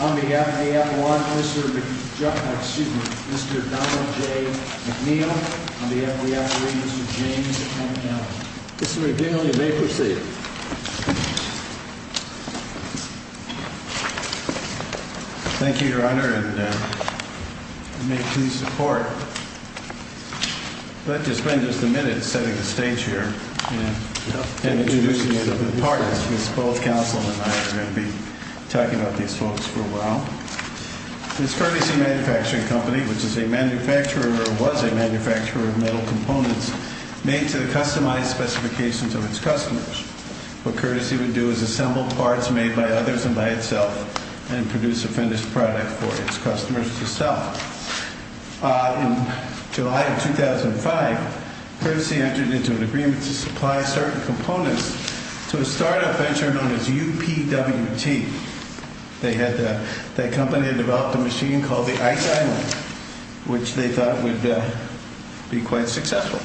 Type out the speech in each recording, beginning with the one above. On behalf of AF1, Mr. Donald J. McNeil. On behalf of the AF3, Mr. James M. Kelly. Mr. McNeil, you may proceed. Thank you, Your Honor, and you may please report. I'd like to spend just a minute setting the stage here and introducing you to the partners, because both counsel and I are going to be talking about these folks for a while. This Courtesy Manufacturing Company, which is a manufacturer or was a manufacturer of metal components, made to the customized specifications of its customers. What Courtesy would do is assemble parts made by others and by itself and produce a finished product for its customers to sell. In July of 2005, Courtesy entered into an agreement to supply certain components to a startup venture known as UPWT. That company had developed a machine called the Ice Island, which they thought would be quite successful.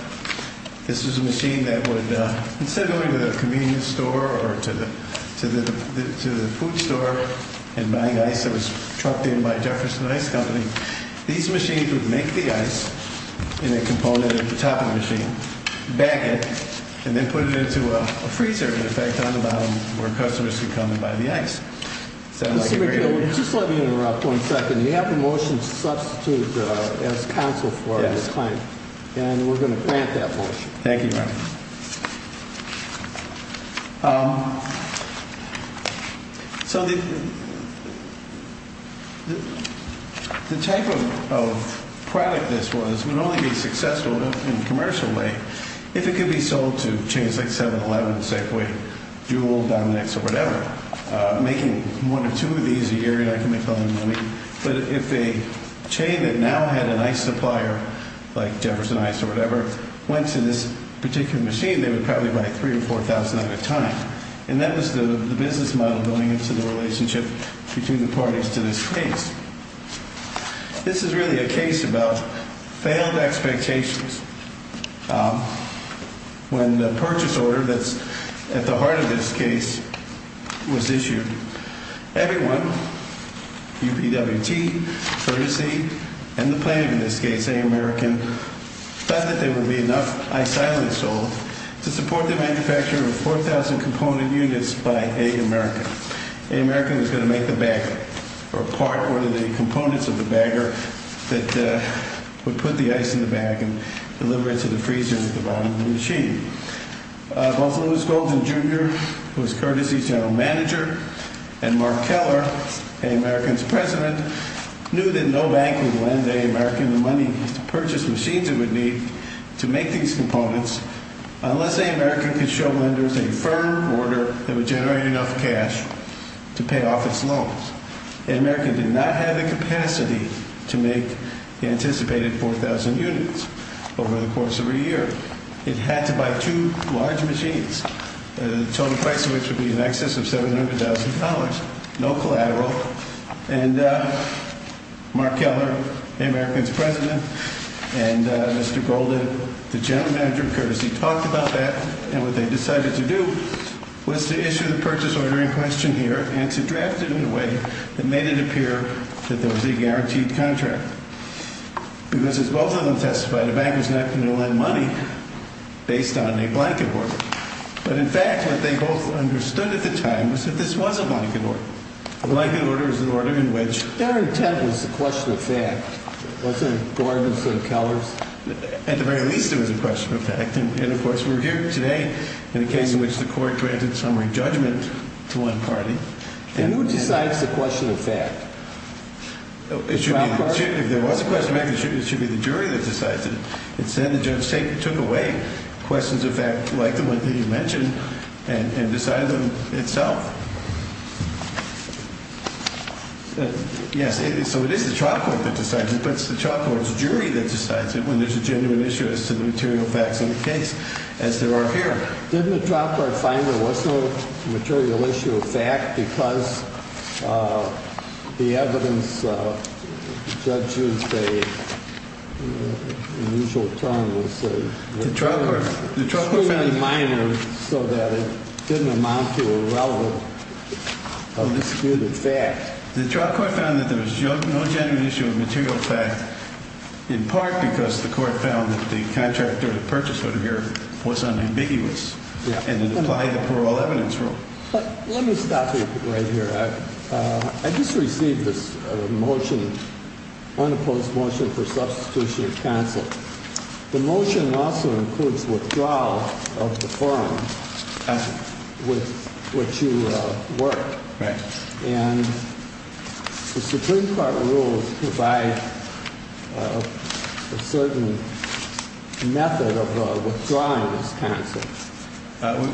This is a machine that would, instead of going to the convenience store or to the food store and buying ice that was trucked in by Jefferson Ice Company, these machines would make the ice in a component of the topping machine, back it, and then put it into a freezer, in effect, on the bottom, where customers could come and buy the ice. Mr. McGill, just let me interrupt one second. You have a motion to substitute as counsel for this client, and we're going to grant that motion. Thank you, Your Honor. So the type of product this was would only be successful in a commercial way if it could be sold to chains like 7-Eleven, Safeway, Jewel, Dominix, or whatever, making one or two of these a year, and I can make a lot of money. But if a chain that now had an ice supplier, like Jefferson Ice or whatever, went to this particular machine, they would probably buy 3,000 or 4,000 at a time. And that was the business model going into the relationship between the parties to this case. This is really a case about failed expectations. When the purchase order that's at the heart of this case was issued, everyone, UPWT, courtesy, and the plaintiff in this case, American, thought that there would be enough ice silently sold to support the manufacture of 4,000 component units by American. American was going to make the bagger or part or the components of the bagger that would put the ice in the bag and deliver it to the freezer at the bottom of the machine. Both Lewis Golden, Jr., who was courtesy general manager, and Mark Keller, American's president, knew that no bank would lend American the money to purchase machines it would need to make these components unless American could show lenders a firm order that would generate enough cash to pay off its loans. And American did not have the capacity to make the anticipated 4,000 units over the course of a year. It had to buy two large machines, the total price of which would be in excess of $700,000. No collateral, and Mark Keller, American's president, and Mr. Golden, the general manager, courtesy, talked about that, and what they decided to do was to issue the purchase order in question here and to draft it in a way that made it appear that there was a guaranteed contract. Because as both of them testified, a banker's not going to lend money based on a blanket order. But in fact, what they both understood at the time was that this was a blanket order. A blanket order is an order in which— Their intent was the question of fact, wasn't it, Gordon and Kellers? At the very least, it was a question of fact. And, of course, we're here today in a case in which the court granted summary judgment to one party. And who decides the question of fact? If there was a question of fact, it should be the jury that decides it. It's then the judge took away questions of fact like the one that you mentioned and decided them itself. Yes, so it is the trial court that decides it, but it's the trial court's jury that decides it when there's a genuine issue as to the material facts of the case, as there are here. Didn't the trial court find there was no material issue of fact because the evidence, the judge used an unusual term. The trial court found— It was extremely minor so that it didn't amount to a relevant or disputed fact. The trial court found that there was no genuine issue of material fact, in part because the court found that the contractor that purchased it here was unambiguous and it applied a parole evidence rule. Let me stop you right here. I just received this motion, unopposed motion for substitution of counsel. The motion also includes withdrawal of the firm with which you work. Right. And the Supreme Court rules provide a certain method of withdrawing this counsel.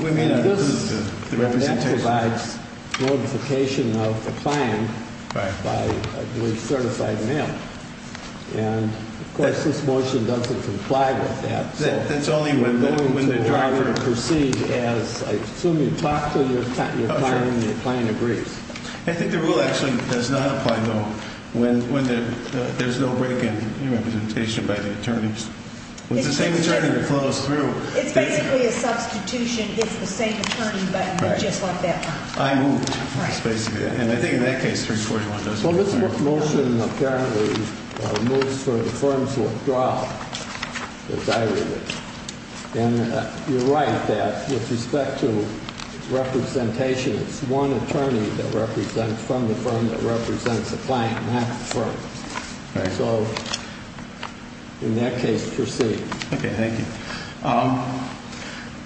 We may not approve the representation. That provides notification of the client by, I believe, certified mail. And, of course, this motion doesn't comply with that. That's only when the driver— When the driver proceeds as—I assume you talk to your client and your client agrees. I think the rule actually does not apply, though, when there's no break in representation by the attorneys. When the same attorney flows through— It's basically a substitution if the same attorney, but just like that one. I moved, basically. And I think in that case, 341 doesn't apply. So this motion apparently moves for the firm's withdrawal, as I read it. And you're right that with respect to representation, it's one attorney that represents from the firm that represents the client, not the firm. So in that case, proceed. Okay, thank you.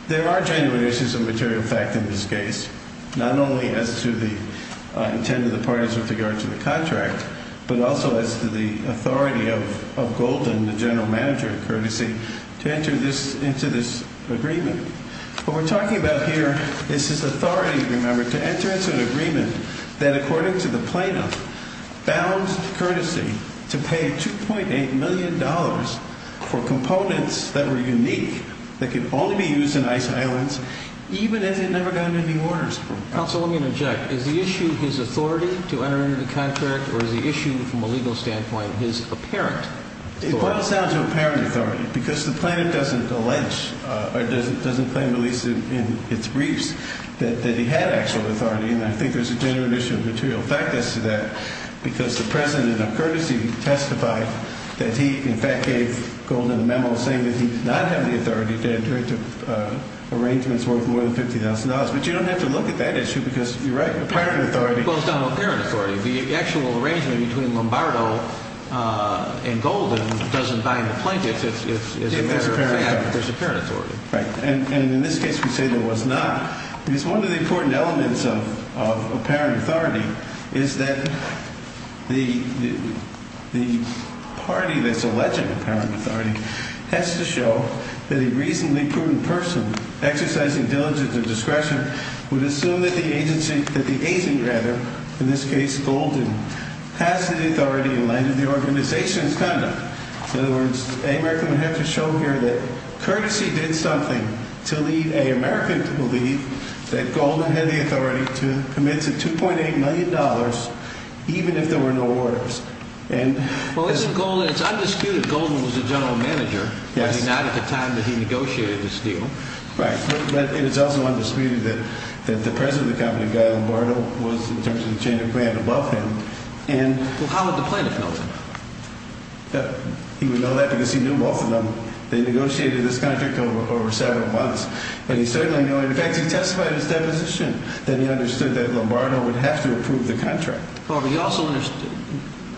There are genuine issues of material fact in this case, not only as to the intent of the parties with regard to the contract, but also as to the authority of Golden, the general manager, courtesy, to enter into this agreement. What we're talking about here is his authority, remember, to enter into an agreement that, according to the plaintiff, bound courtesy to pay $2.8 million for components that were unique, that could only be used in ice islands, even as it never got any orders from— Counsel, let me interject. Is the issue his authority to enter into the contract, or is the issue from a legal standpoint his apparent authority? It boils down to apparent authority, because the plaintiff doesn't allege or doesn't claim, at least in its briefs, that he had actual authority. And I think there's a genuine issue of material fact as to that. Because the president of courtesy testified that he, in fact, gave Golden a memo saying that he did not have the authority to enter into arrangements worth more than $50,000. But you don't have to look at that issue, because you're right, apparent authority— It boils down to apparent authority. The actual arrangement between Lombardo and Golden doesn't bind the plaintiff. It's a matter of fact that there's apparent authority. Right. And in this case, we say there was not. Because one of the important elements of apparent authority is that the party that's alleging apparent authority has to show that a reasonably prudent person, exercising diligence and discretion, would assume that the agent, rather, in this case Golden, has the authority in light of the organization's conduct. In other words, American would have to show here that courtesy did something to lead American to believe that Golden had the authority to commit to $2.8 million, even if there were no orders. Well, it's undisputed Golden was the general manager. Yes. But not at the time that he negotiated this deal. Right. But it is also undisputed that the president of the company, Guy Lombardo, was in terms of the chain of command above him. Well, how would the plaintiff know that? He would know that because he knew both of them. They negotiated this contract over several months. But he certainly knew. In fact, he testified in his deposition that he understood that Lombardo would have to approve the contract. However, he also understood.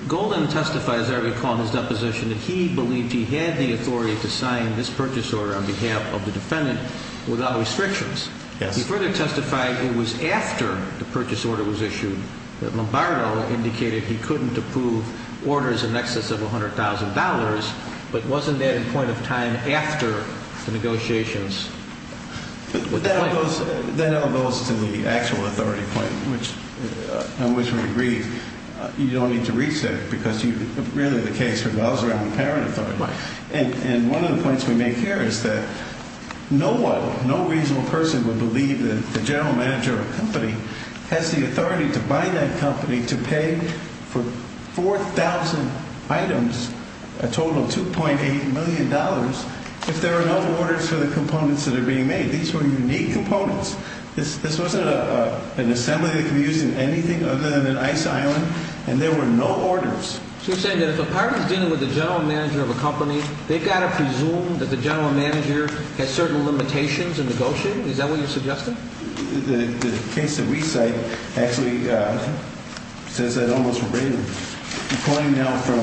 Golden testified, as I recall in his deposition, that he believed he had the authority to sign this purchase order on behalf of the defendant without restrictions. Yes. He further testified it was after the purchase order was issued that Lombardo indicated he couldn't approve orders in excess of $100,000. But wasn't that in point of time after the negotiations with the plaintiff? That all goes to the actual authority point on which we agreed. You don't need to reach that because really the case revolves around the parent authority. Right. And one of the points we make here is that no one, no reasonable person, would believe that the general manager of a company has the authority to buy that company to pay for 4,000 items, a total of $2.8 million, if there are no orders for the components that are being made. These were unique components. This wasn't an assembly that could be used in anything other than an ice island, and there were no orders. So you're saying that if a party is dealing with the general manager of a company, they've got to presume that the general manager has certain limitations in negotiating? Is that what you're suggesting? The case that we cite actually says that almost regularly. I'm quoting now from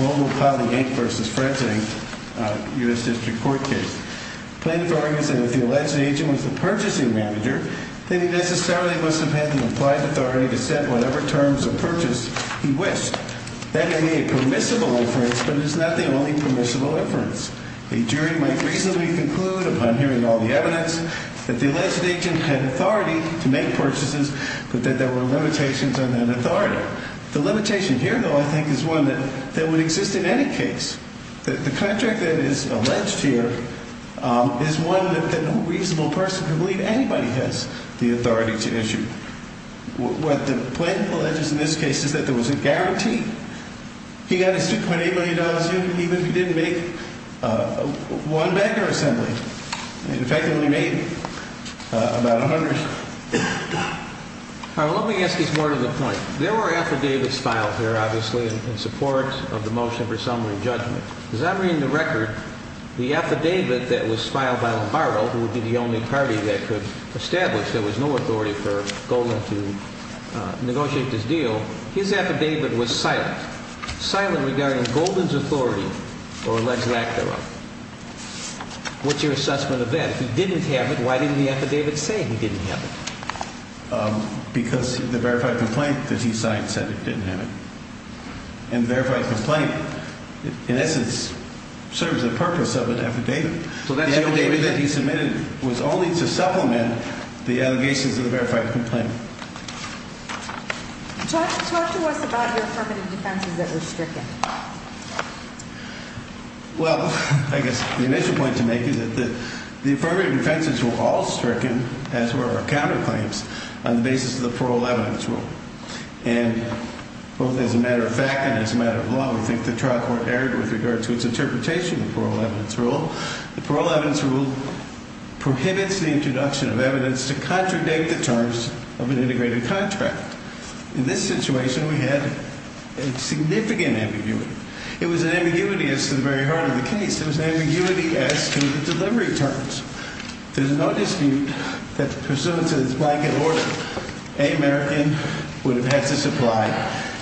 Global Poly Inc. v. Fred's Inc., a U.S. District Court case. Plaintiff argues that if the alleged agent was the purchasing manager, then he necessarily must have had the implied authority to set whatever terms of purchase he wished. That may be a permissible inference, but it's not the only permissible inference. A jury might reasonably conclude, upon hearing all the evidence, that the alleged agent had authority to make purchases, but that there were limitations on that authority. The limitation here, though, I think is one that would exist in any case. The contract that is alleged here is one that no reasonable person can believe anybody has the authority to issue. What the plaintiff alleges in this case is that there was a guarantee. He got his $2.8 million even if he didn't make one bank or assembly. In fact, he only made about $100. All right, well, let me ask you more to the point. There were affidavits filed here, obviously, in support of the motion for summary judgment. Does that ring a record? The affidavit that was filed by Lombardo, who would be the only party that could establish there was no authority for Golden to negotiate this deal, his affidavit was silent. Silent regarding Golden's authority or alleged act thereof. What's your assessment of that? If he didn't have it, why didn't the affidavit say he didn't have it? Because the verified complaint that he signed said it didn't have it. And verified complaint, in essence, serves the purpose of an affidavit. The affidavit that he submitted was only to supplement the allegations of the verified complaint. Talk to us about your affirmative defenses that were stricken. Well, I guess the initial point to make is that the affirmative defenses were all stricken, as were our counterclaims, on the basis of the parole evidence rule. And both as a matter of fact and as a matter of law, we think the trial court erred with regard to its interpretation of the parole evidence rule. The parole evidence rule prohibits the introduction of evidence to contradict the terms of an integrated contract. In this situation, we had a significant ambiguity. It was an ambiguity as to the very heart of the case. It was an ambiguity as to the delivery terms. There's no dispute that pursuant to this blanket order, a American would have had to supply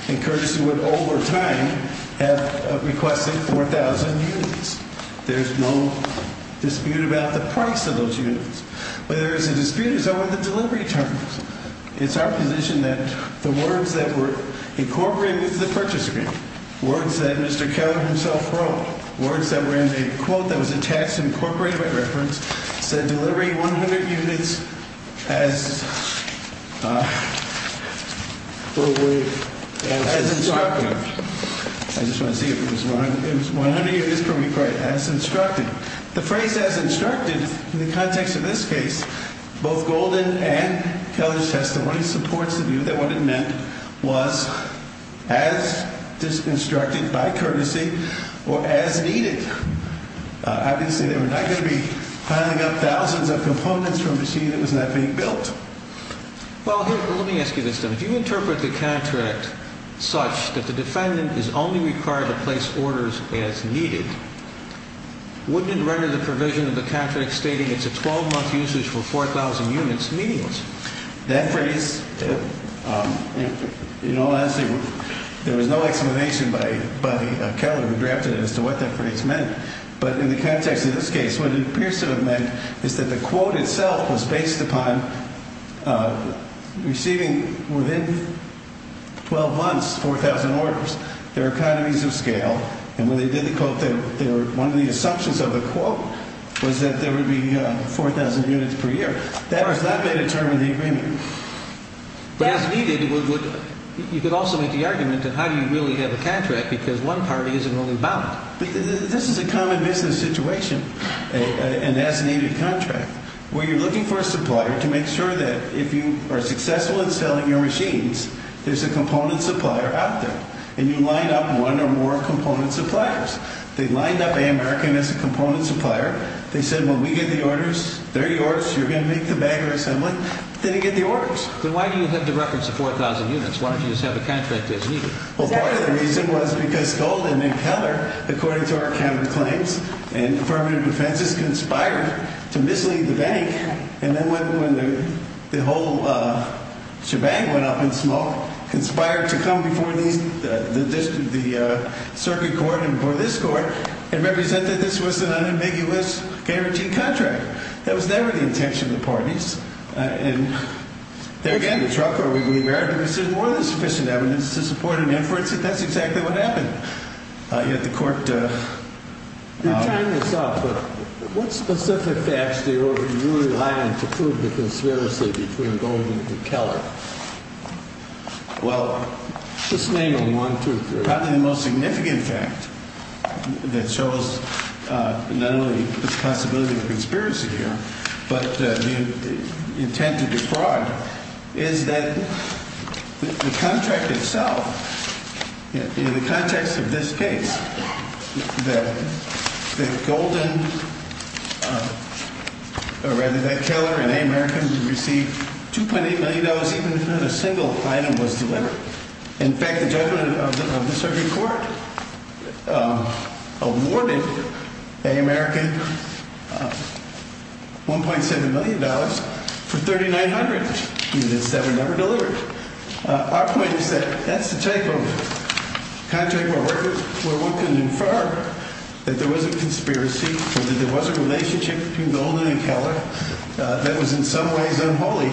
and courtesy would over time have requested 4,000 units. There's no dispute about the price of those units. But there is a dispute as to the delivery terms. It's our position that the words that were incorporated into the purchase agreement, words that Mr. Keller himself wrote, words that were in a quote that was attached and incorporated by reference, said delivering 100 units as instructed. I just want to see if it was 100 units per week as instructed. The phrase as instructed in the context of this case, both Golden and Keller's testimony supports the view that what it meant was as instructed by courtesy or as needed. Obviously, they were not going to be filing up thousands of components from a machine that was not being built. Well, let me ask you this, then. If you interpret the contract such that the defendant is only required to place orders as needed, wouldn't it render the provision of the contract stating it's a 12-month usage for 4,000 units meaningless? That phrase, you know, honestly, there was no explanation by Keller who drafted it as to what that phrase meant. But in the context of this case, what it appears to have meant is that the quote itself was based upon receiving within 12 months 4,000 orders. There are economies of scale. And when they did the quote, one of the assumptions of the quote was that there would be 4,000 units per year. That was not made a term of the agreement. As needed, you could also make the argument that how do you really have a contract because one party isn't really bound. But this is a common business situation, an as-needed contract, where you're looking for a supplier to make sure that if you are successful in selling your machines, there's a component supplier out there. And you line up one or more component suppliers. They lined up American as a component supplier. They said, when we get the orders, they're yours. You're going to make the bagger assembly. Then they get the orders. Then why do you have the reference of 4,000 units? Why don't you just have a contract as needed? Well, part of the reason was because Gold and McKellar, according to our counterclaims and affirmative defenses, conspired to mislead the bank. And then when the whole shebang went up in smoke, conspired to come before the circuit court and before this court and represent that this was an unambiguous guaranteed contract. That was never the intention of the parties. And there again, the trial court would be aware that this is more than sufficient evidence to support an inference that that's exactly what happened. Yet the court— You're tying this up, but what specific facts do you rely on to prove the conspiracy between Gold and McKellar? Well— Well, probably the most significant fact that shows not only the possibility of a conspiracy here, but the intent of the fraud, is that the contract itself, in the context of this case, that Gold and—or rather, that McKellar and American received $2.8 million, even if not a single item was delivered. In fact, the judgment of the circuit court awarded American $1.7 million for 3,900 units that were never delivered. Our point is that that's the type of contract where one can infer that there was a conspiracy, that there was a relationship between Gold and McKellar that was in some ways unholy,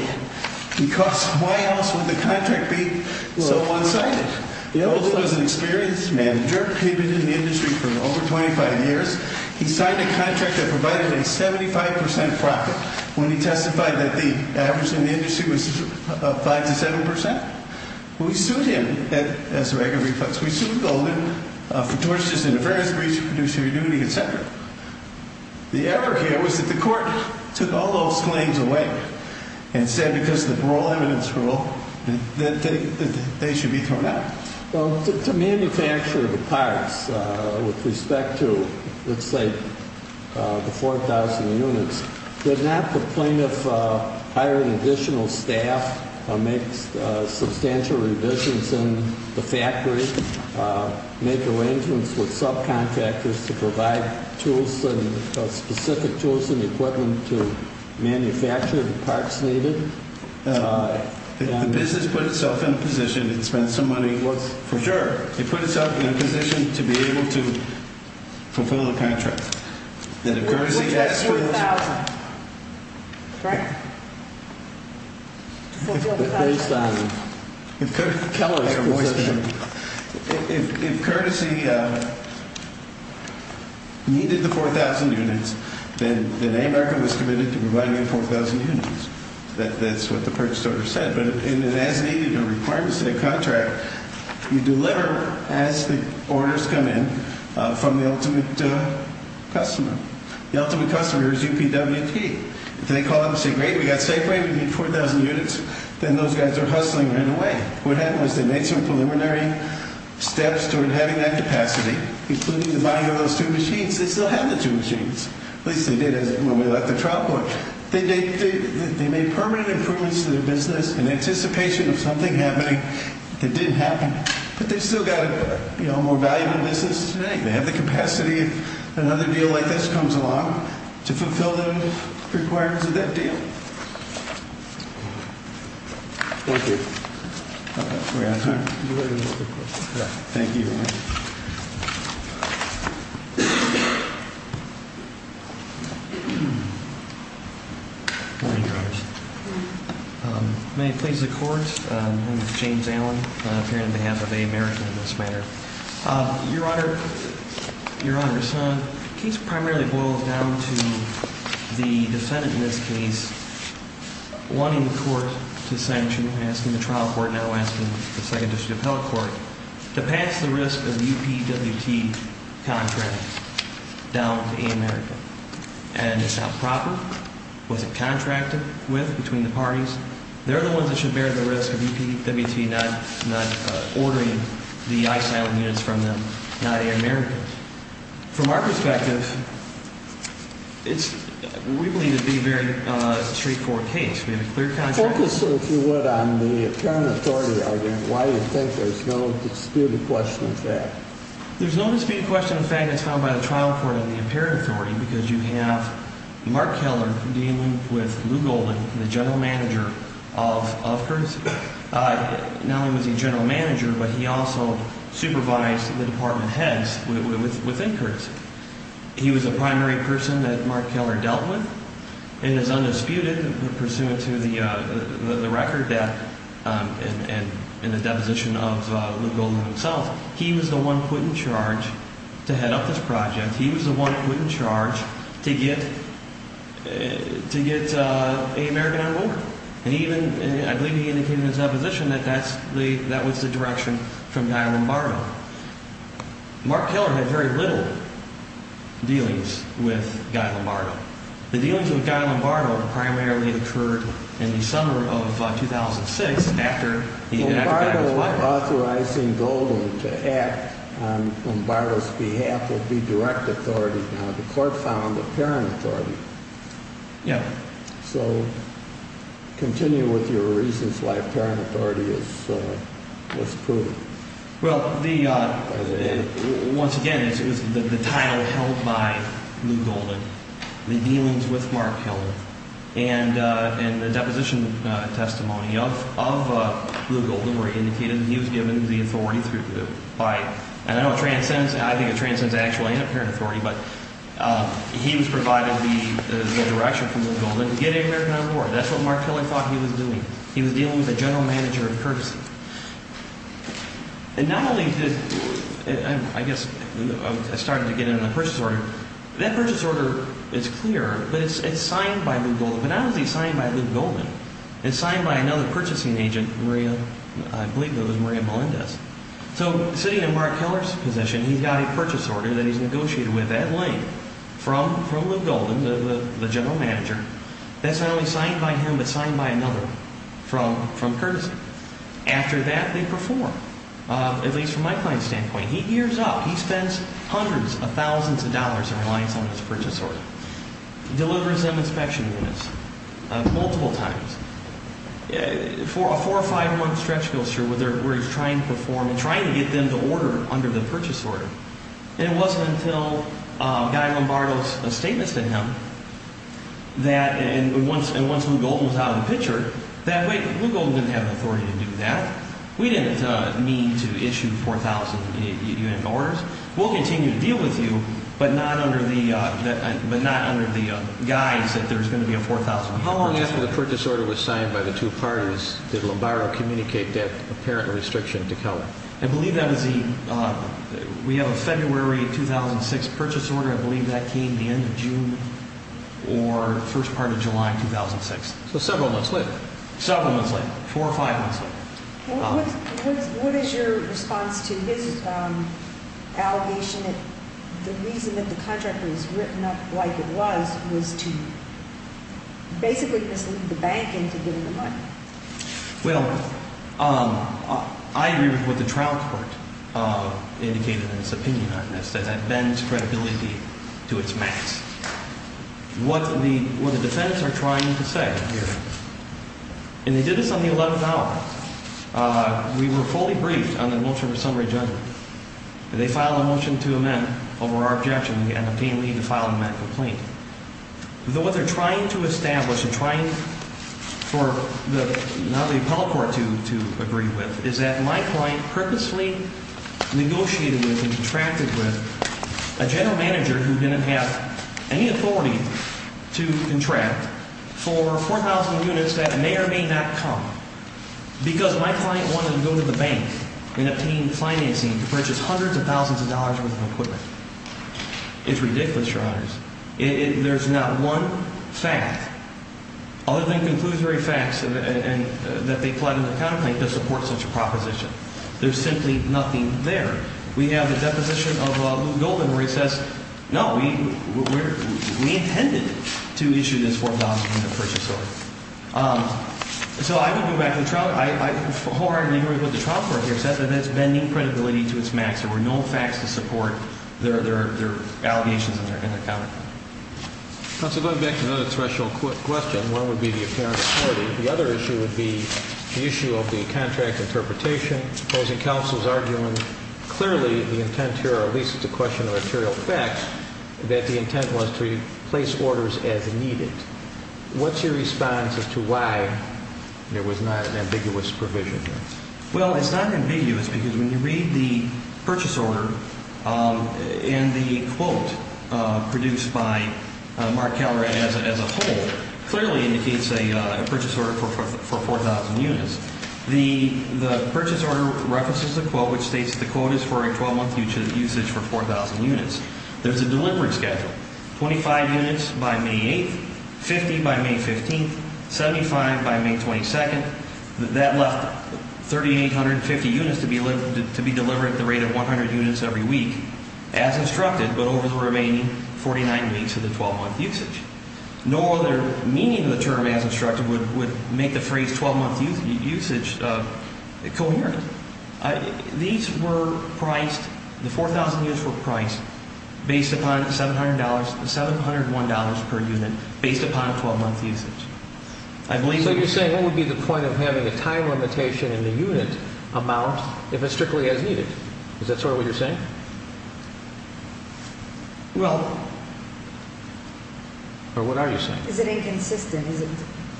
because why else would the contract be so one-sided? Gold was an experienced manager. He'd been in the industry for over 25 years. He signed a contract that provided a 75 percent profit when he testified that the average in the industry was 5 to 7 percent. We sued him, as a regular reference. We sued Gold for tortious interference, breach of fiduciary duty, et cetera. The effort here was that the court took all those claims away and said, because of the parole evidence rule, that they should be thrown out. Well, to manufacture the parts with respect to, let's say, the 4,000 units, did not the plaintiff hire an additional staff, make substantial revisions in the factory, make arrangements with subcontractors to provide specific tools and equipment to manufacture the parts needed? The business put itself in a position, it spent some money, for sure, it put itself in a position to be able to fulfill the contract. Which meant 4,000, correct? If Courtesy needed the 4,000 units, then America was committed to providing you 4,000 units. That's what the purchase order said. But in an as-needed or requirement-set contract, you deliver as the orders come in from the ultimate customer. The ultimate customer is UPWP. If they call up and say, great, we've got safeway, we need 4,000 units, then those guys are hustling right away. What happened was they made some preliminary steps toward having that capacity, including the buying of those two machines. They still have the two machines. At least they did when we left the trial court. They made permanent improvements to their business in anticipation of something happening that didn't happen. But they've still got a more valuable business today. They have the capacity, if another deal like this comes along, to fulfill the requirements of that deal. Thank you. Thank you. Good morning, Your Honors. May it please the Court, I'm James Allen, appearing on behalf of America in this matter. Your Honor, your son, the case primarily boils down to the defendant in this case wanting the court to sanction, asking the trial court, now asking the Second District Appellate Court, to pass the risk of UPWP contracting down to America. And it's not proper. Was it contracted with, between the parties? They're the ones that should bear the risk of UPWP not ordering the isolated units from them, not America. From our perspective, we believe it would be a very straightforward case. We have a clear contract. If you would, on the apparent authority argument, why do you think there's no disputed question of fact? There's no disputed question of fact that's found by the trial court on the apparent authority because you have Mark Keller dealing with Lou Golding, the general manager of Curtis. Not only was he general manager, but he also supervised the department heads within Curtis. He was a primary person that Mark Keller dealt with and is undisputed pursuant to the record that, and the deposition of Lou Golding himself, he was the one put in charge to head up this project. He was the one put in charge to get America on loop. And I believe he indicated in his deposition that that was the direction from Guy Lombardo. Mark Keller had very little dealings with Guy Lombardo. The dealings with Guy Lombardo primarily occurred in the summer of 2006 after he had got his lawyer. Lombardo authorizing Golding to act on Lombardo's behalf would be direct authority. Now, the court found apparent authority. Yeah. So continue with your reasons why apparent authority is prudent. Well, the, once again, it was the title held by Lou Golding, the dealings with Mark Keller, and the deposition testimony of Lou Golding where he indicated that he was given the authority by, and I know it transcends, I think it transcends actual and apparent authority, but he was provided the direction from Lou Golding to get America on board. That's what Mark Keller thought he was doing. He was dealing with a general manager of courtesy. And not only did, I guess, I started to get into the purchase order. That purchase order is clear, but it's signed by Lou Golding. But not only is he signed by Lou Golding, it's signed by another purchasing agent, Maria, I believe it was Maria Melendez. So sitting in Mark Keller's position, he's got a purchase order that he's negotiated with Adelaide from Lou Golding, the general manager. That's not only signed by him, but signed by another from courtesy. After that, they perform, at least from my client's standpoint. He gears up. He spends hundreds of thousands of dollars in reliance on his purchase order. Delivers them inspection units multiple times. For a four or five month stretch, I'm not sure, where he's trying to perform and trying to get them to order under the purchase order. And it wasn't until Guy Lombardo's statements to him that, and once Lou Golding was out of the picture, that Lou Golding didn't have the authority to do that. We didn't mean to issue 4,000 unit orders. We'll continue to deal with you, but not under the guise that there's going to be a 4,000 unit purchase order. How long after the purchase order was signed by the two parties did Lombardo communicate that apparent restriction to Keller? I believe that was the, we have a February 2006 purchase order. I believe that came the end of June or first part of July 2006. So several months later. Several months later. Four or five months later. What is your response to his allegation that the reason that the contract was written up like it was, was to basically mislead the bank into giving the money? Well, I agree with what the trial court indicated in its opinion on this, that that bends credibility to its max. What the defendants are trying to say here, and they did this on the 11th hour, we were fully briefed on the motion of a summary judgment. They filed a motion to amend over our objection and obtained leave to file an amendment complaint. What they're trying to establish and trying for the, not the appellate court to, to agree with is that my client purposely negotiated with and contracted with a general manager who didn't have any authority to contract for 4,000 units that may or may not come. Because my client wanted to go to the bank and obtain financing to purchase hundreds of thousands of dollars worth of equipment. It's ridiculous, your honors. It, there's not one fact, other than conclusory facts, and, and, that they pledged in the complaint to support such a proposition. There's simply nothing there. We have the deposition of Lou Golden where he says, no, we, we're, we intended to issue this 4,000 unit purchase order. So I would go back to the trial, I, I wholeheartedly agree with what the trial court here said, that that's bending credibility to its max. There were no facts to support their, their, their allegations in their, in their comment. Counsel, going back to another threshold question, one would be the apparent authority. The other issue would be the issue of the contract interpretation opposing counsel's argument. Clearly, the intent here, or at least it's a question of material fact, that the intent was to place orders as needed. What's your response as to why there was not an ambiguous provision here? Well, it's not ambiguous because when you read the purchase order, and the quote produced by Mark Calrad as a, as a whole, clearly indicates a, a purchase order for, for 4,000 units. The, the purchase order references a quote which states that the quote is for a 12-month usage for 4,000 units. There's a delivery schedule. 25 units by May 8th, 50 by May 15th, 75 by May 22nd. That left 3,850 units to be, to be delivered at the rate of 100 units every week as instructed, but over the remaining 49 weeks of the 12-month usage. No other meaning of the term as instructed would, would make the phrase 12-month usage, usage coherent. These were priced, the 4,000 units were priced based upon $700, $701 per unit based upon a 12-month usage. I believe- So you're saying what would be the point of having a time limitation in the unit amount if it's strictly as needed? Is that sort of what you're saying? Well- Or what are you saying? Is it inconsistent? Is it,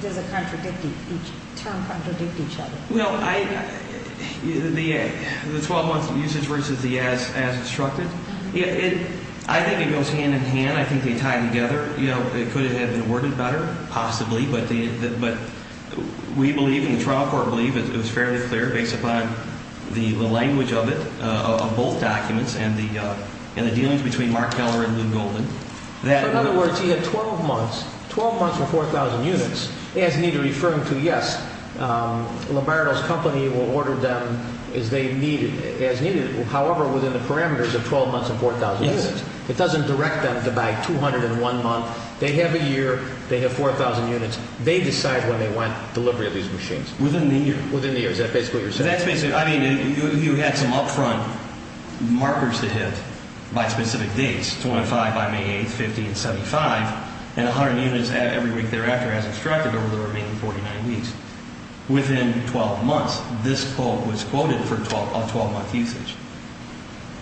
does it contradict each, each term contradict each other? Well, I, the, the 12-month usage versus the as, as instructed, it, it, I think it goes hand in hand. I think they tie together. You know, it could have been worded better, possibly, but the, but we believe and the trial court believe it was fairly clear based upon the, the language of it, of both documents and the, and the dealings between Mark Keller and Lou Golden that- In other words, he had 12 months, 12 months for 4,000 units. It has neither referring to, yes, Lombardo's company will order them as they needed, as needed. However, within the parameters of 12 months and 4,000 units. Yes. It doesn't direct them to buy 200 in one month. They have a year. They have 4,000 units. They decide when they want delivery of these machines. Within the year. Within the year. Is that basically what you're saying? But that's basically, I mean, you, you had some upfront markers to hit by specific dates, 25 by May 8th, 50 and 75, and 100 units every week thereafter as instructed over the remaining 49 weeks. Within 12 months, this quote was quoted for 12, a 12-month usage.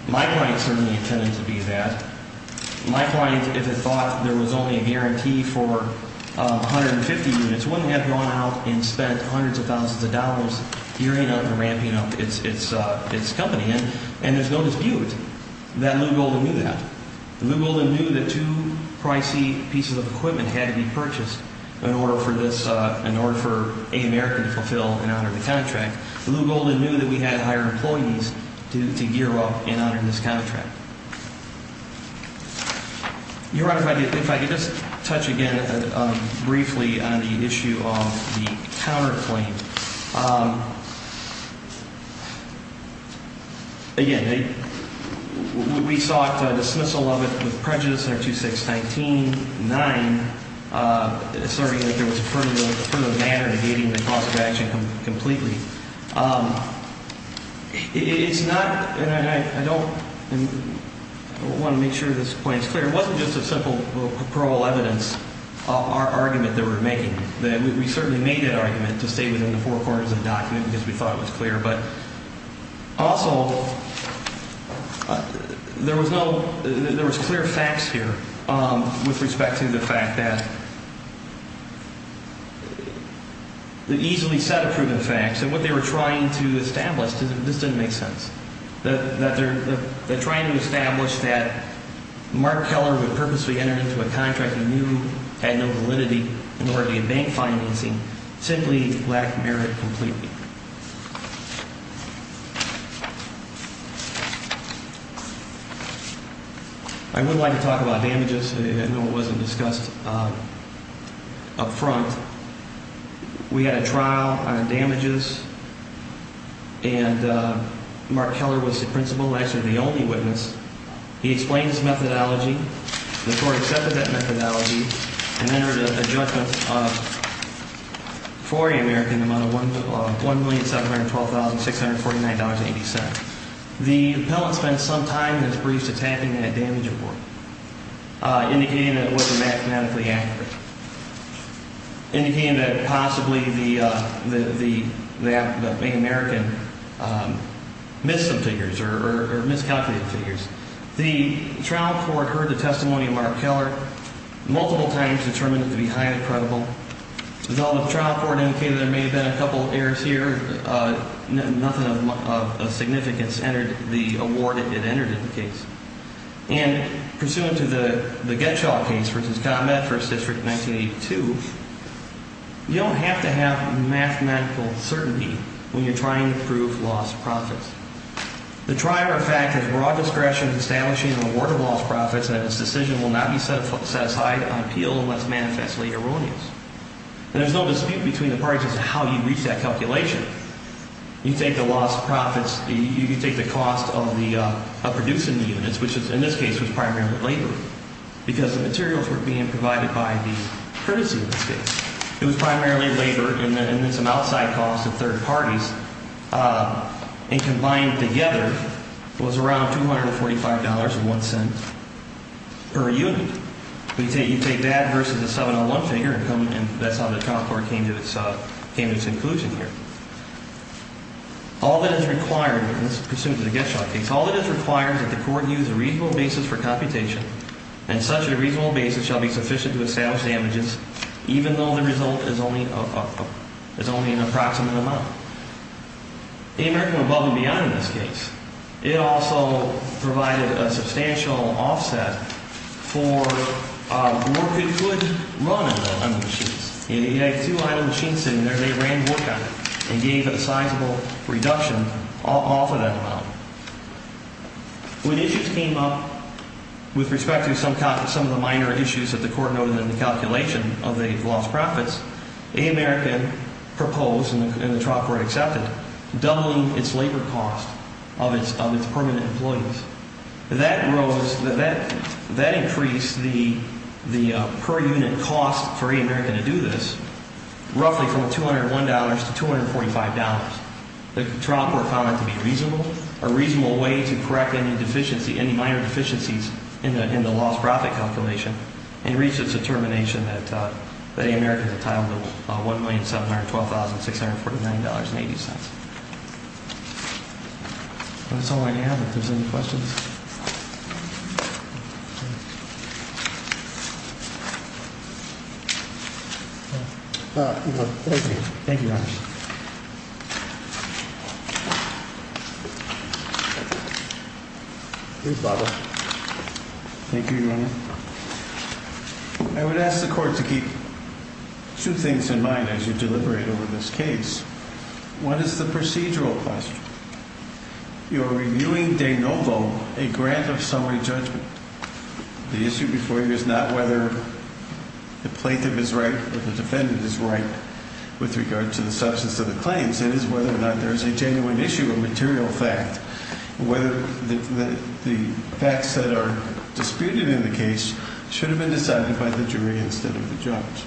My client certainly intended to be that. My client, if it thought there was only a guarantee for 150 units, wouldn't have gone out and spent hundreds of thousands of dollars gearing up and ramping up its company. And there's no dispute that Lew Golden knew that. Lew Golden knew that two pricey pieces of equipment had to be purchased in order for this, in order for America to fulfill and honor the contract. Lew Golden knew that we had to hire employees to gear up and honor this contract. Your Honor, if I could just touch again briefly on the issue of the counterclaim. Again, we sought dismissal of it with prejudice under 2619-9, asserting that there was affirmative manner negating the cause of action completely. It's not, and I don't want to make sure this point is clear. It wasn't just a simple parole evidence argument that we're making. We certainly made that argument to stay within the four corners of the document because we thought it was clear. But also, there was clear facts here with respect to the fact that the easily set of proven facts and what they were trying to establish, this didn't make sense. That they're trying to establish that Mark Keller would purposely enter into a contract he knew had no validity in order to get bank financing simply lacked merit completely. I would like to talk about damages. I know it wasn't discussed up front. We had a trial on damages, and Mark Keller was the principal, actually the only witness. He explained his methodology. The court accepted that methodology and entered a judgment for a American amount of $1,712,649.87. The appellant spent some time in his briefs attacking that damage report, indicating that it wasn't mathematically accurate. Indicating that possibly the bank American missed some figures or miscalculated figures. The trial court heard the testimony of Mark Keller multiple times, determined it to be highly credible. Though the trial court indicated there may have been a couple errors here, nothing of significance entered the award it entered in the case. And pursuant to the Getschall case, for instance, Continent First District 1982, you don't have to have mathematical certainty when you're trying to prove lost profits. The trier of fact has broad discretion in establishing an award of lost profits, and its decision will not be set aside on appeal unless manifestly erroneous. And there's no dispute between the parties as to how you reach that calculation. You take the lost profits, you take the cost of producing the units, which in this case was primarily labor. Because the materials were being provided by the courtesy of this case. It was primarily labor, and then some outside costs of third parties. And combined together was around $245.01 per unit. You take that versus the 701 figure, and that's how the trial court came to its conclusion here. All that is required in this pursuant to the Getschall case, all that is required is that the court use a reasonable basis for computation. And such a reasonable basis shall be sufficient to establish damages, even though the result is only an approximate amount. The American above and beyond in this case, it also provided a substantial offset for the work it could run on the machines. It had two idle machines sitting there. They ran work on it and gave it a sizable reduction off of that amount. When issues came up with respect to some of the minor issues that the court noted in the calculation of the lost profits, American proposed, and the trial court accepted, doubling its labor cost of its permanent employees. That increased the per unit cost for American to do this roughly from $201 to $245. The trial court found that to be reasonable, a reasonable way to correct any minor deficiencies in the lost profit calculation and reached its determination that the American had titled it $1,712,649.80. That's all I have. If there's any questions. Thank you. Thank you, Your Honor. I would ask the court to keep two things in mind as you deliberate over this case. What is the procedural question? You're reviewing de novo, a grant of summary judgment. The issue before you is not whether the plaintiff is right or the defendant is right with regard to the summary judgment. It is whether or not there is a genuine issue, a material fact. The facts that are disputed in the case should have been decided by the jury instead of the judge.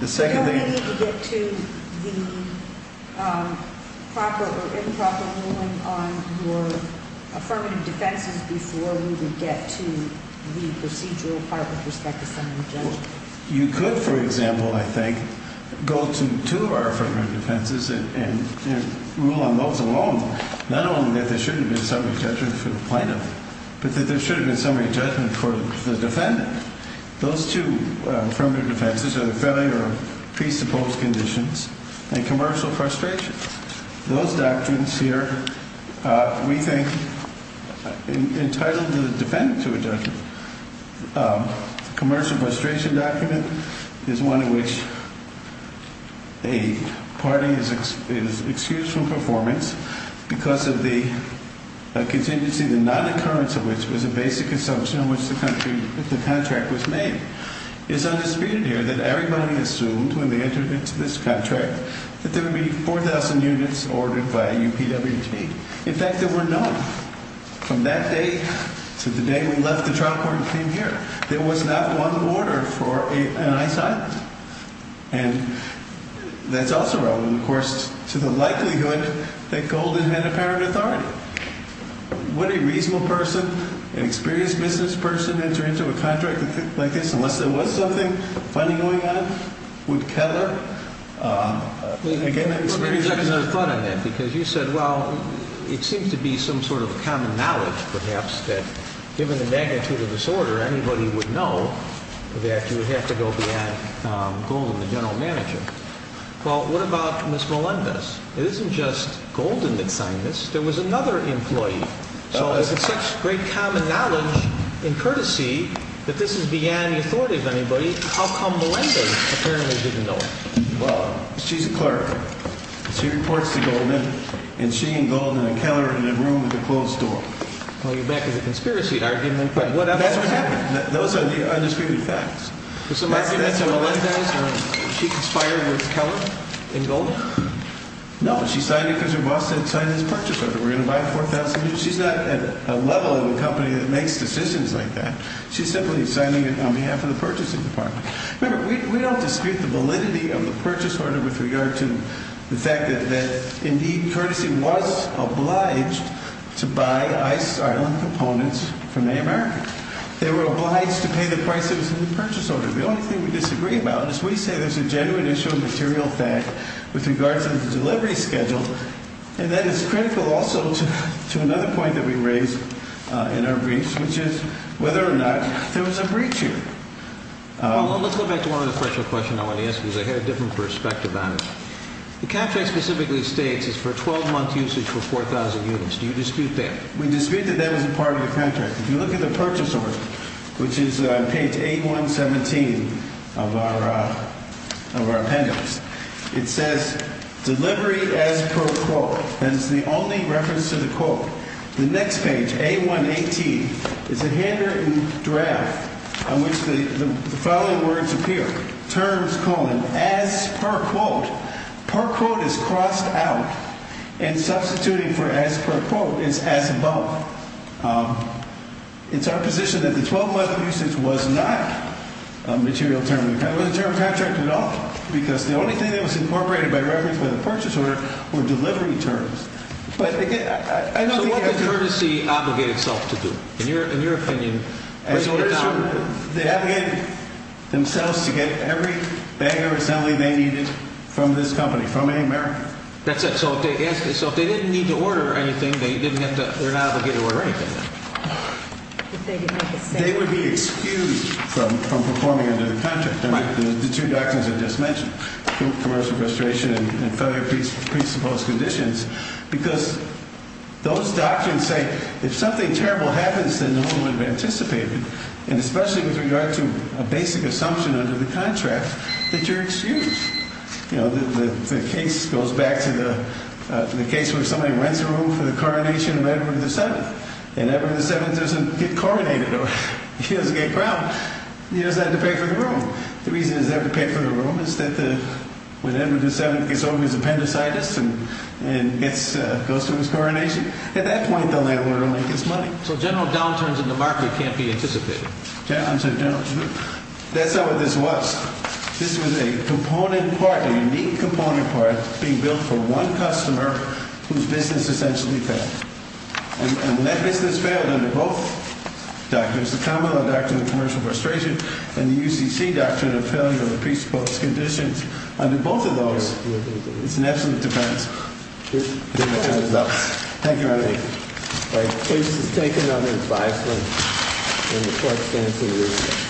Don't we need to get to the proper or improper ruling on your affirmative defenses before we would get to the procedural part with respect to summary judgment? You could, for example, I think, go to two of our affirmative defenses and rule on those alone. Not only that there shouldn't have been summary judgment for the plaintiff, but that there should have been summary judgment for the defendant. Those two affirmative defenses are the failure of presupposed conditions and commercial frustration. Those doctrines here, we think, entitled the defendant to a judgment. The commercial frustration document is one in which a party is excused from performance because of the contingency, the non-occurrence of which was a basic assumption in which the contract was made. It's undisputed here that everybody assumed when they entered into this contract that there would be 4,000 units ordered by UPWT. In fact, there were none. From that day to the day we left the trial court and came here, there was not one order for an ICE item. And that's also relevant, of course, to the likelihood that Golden had apparent authority. Would a reasonable person, an experienced business person, enter into a contract like this unless there was something funny going on? Again, it's very interesting. Let me interject another thought on that because you said, well, it seems to be some sort of a common knowledge, perhaps, that given the magnitude of this order, anybody would know that you would have to go beyond Golden, the general manager. Well, what about Ms. Melendez? It isn't just Golden that signed this. There was another employee. So if it's such great common knowledge and courtesy that this is beyond the authority of anybody, how come Melendez apparently didn't know it? Well, she's a clerk. She reports to Golden, and she and Golden and Keller are in a room with a closed door. Well, you're back to the conspiracy argument. That's what happened. Those are the undisputed facts. Did somebody give that to Melendez? She conspired with Keller and Golden? No. She signed it because her boss said sign this purchase order. We're going to buy 4,000 units. She's not at a level of a company that makes decisions like that. She's simply signing it on behalf of the purchasing department. Remember, we don't dispute the validity of the purchase order with regard to the fact that, indeed, courtesy was obliged to buy Ice Island components from America. They were obliged to pay the prices in the purchase order. The only thing we disagree about is we say there's a genuine issue of material fact with regards to the delivery schedule. And that is critical also to another point that we raised in our brief, which is whether or not there was a breach here. Well, let's go back to one other question I want to ask because I had a different perspective on it. The contract specifically states it's for 12-month usage for 4,000 units. Do you dispute that? We dispute that that was a part of the contract. If you look at the purchase order, which is on page 8117 of our appendix, it says, delivery as per quote, and it's the only reference to the quote. The next page, A118, is a handwritten draft on which the following words appear, terms, colon, as per quote. Per quote is crossed out, and substituting for as per quote is as above. It's our position that the 12-month usage was not a material term. It wasn't a term of contract at all because the only thing that was incorporated by reference to the purchase order were delivery terms. So what did courtesy obligate itself to do, in your opinion? They obligated themselves to get every bag of assembly they needed from this company, from America. That's it. So if they didn't need to order anything, they're not obligated to order anything. If they didn't make a statement. They would be excused from performing under the contract. The two doctrines I just mentioned, commercial frustration and failure of presupposed conditions, because those doctrines say if something terrible happens, then no one would have anticipated, and especially with regard to a basic assumption under the contract, that you're excused. The case goes back to the case where somebody rents a room for the coronation of Edward VII, and Edward VII doesn't get coronated or he doesn't get crowned. He doesn't have to pay for the room. The reason he doesn't have to pay for the room is that when Edward VII gets over his appendicitis and goes through his coronation, at that point the landlord will make his money. So general downturns in the market can't be anticipated. That's not what this was. This was a component part, a unique component part, being built for one customer whose business essentially failed. And when that business failed under both doctrines, the common law doctrine of commercial frustration and the UCC doctrine of failure of presupposed conditions, under both of those, it's an absolute defense. Thank you very much. All right, please just take another five minutes.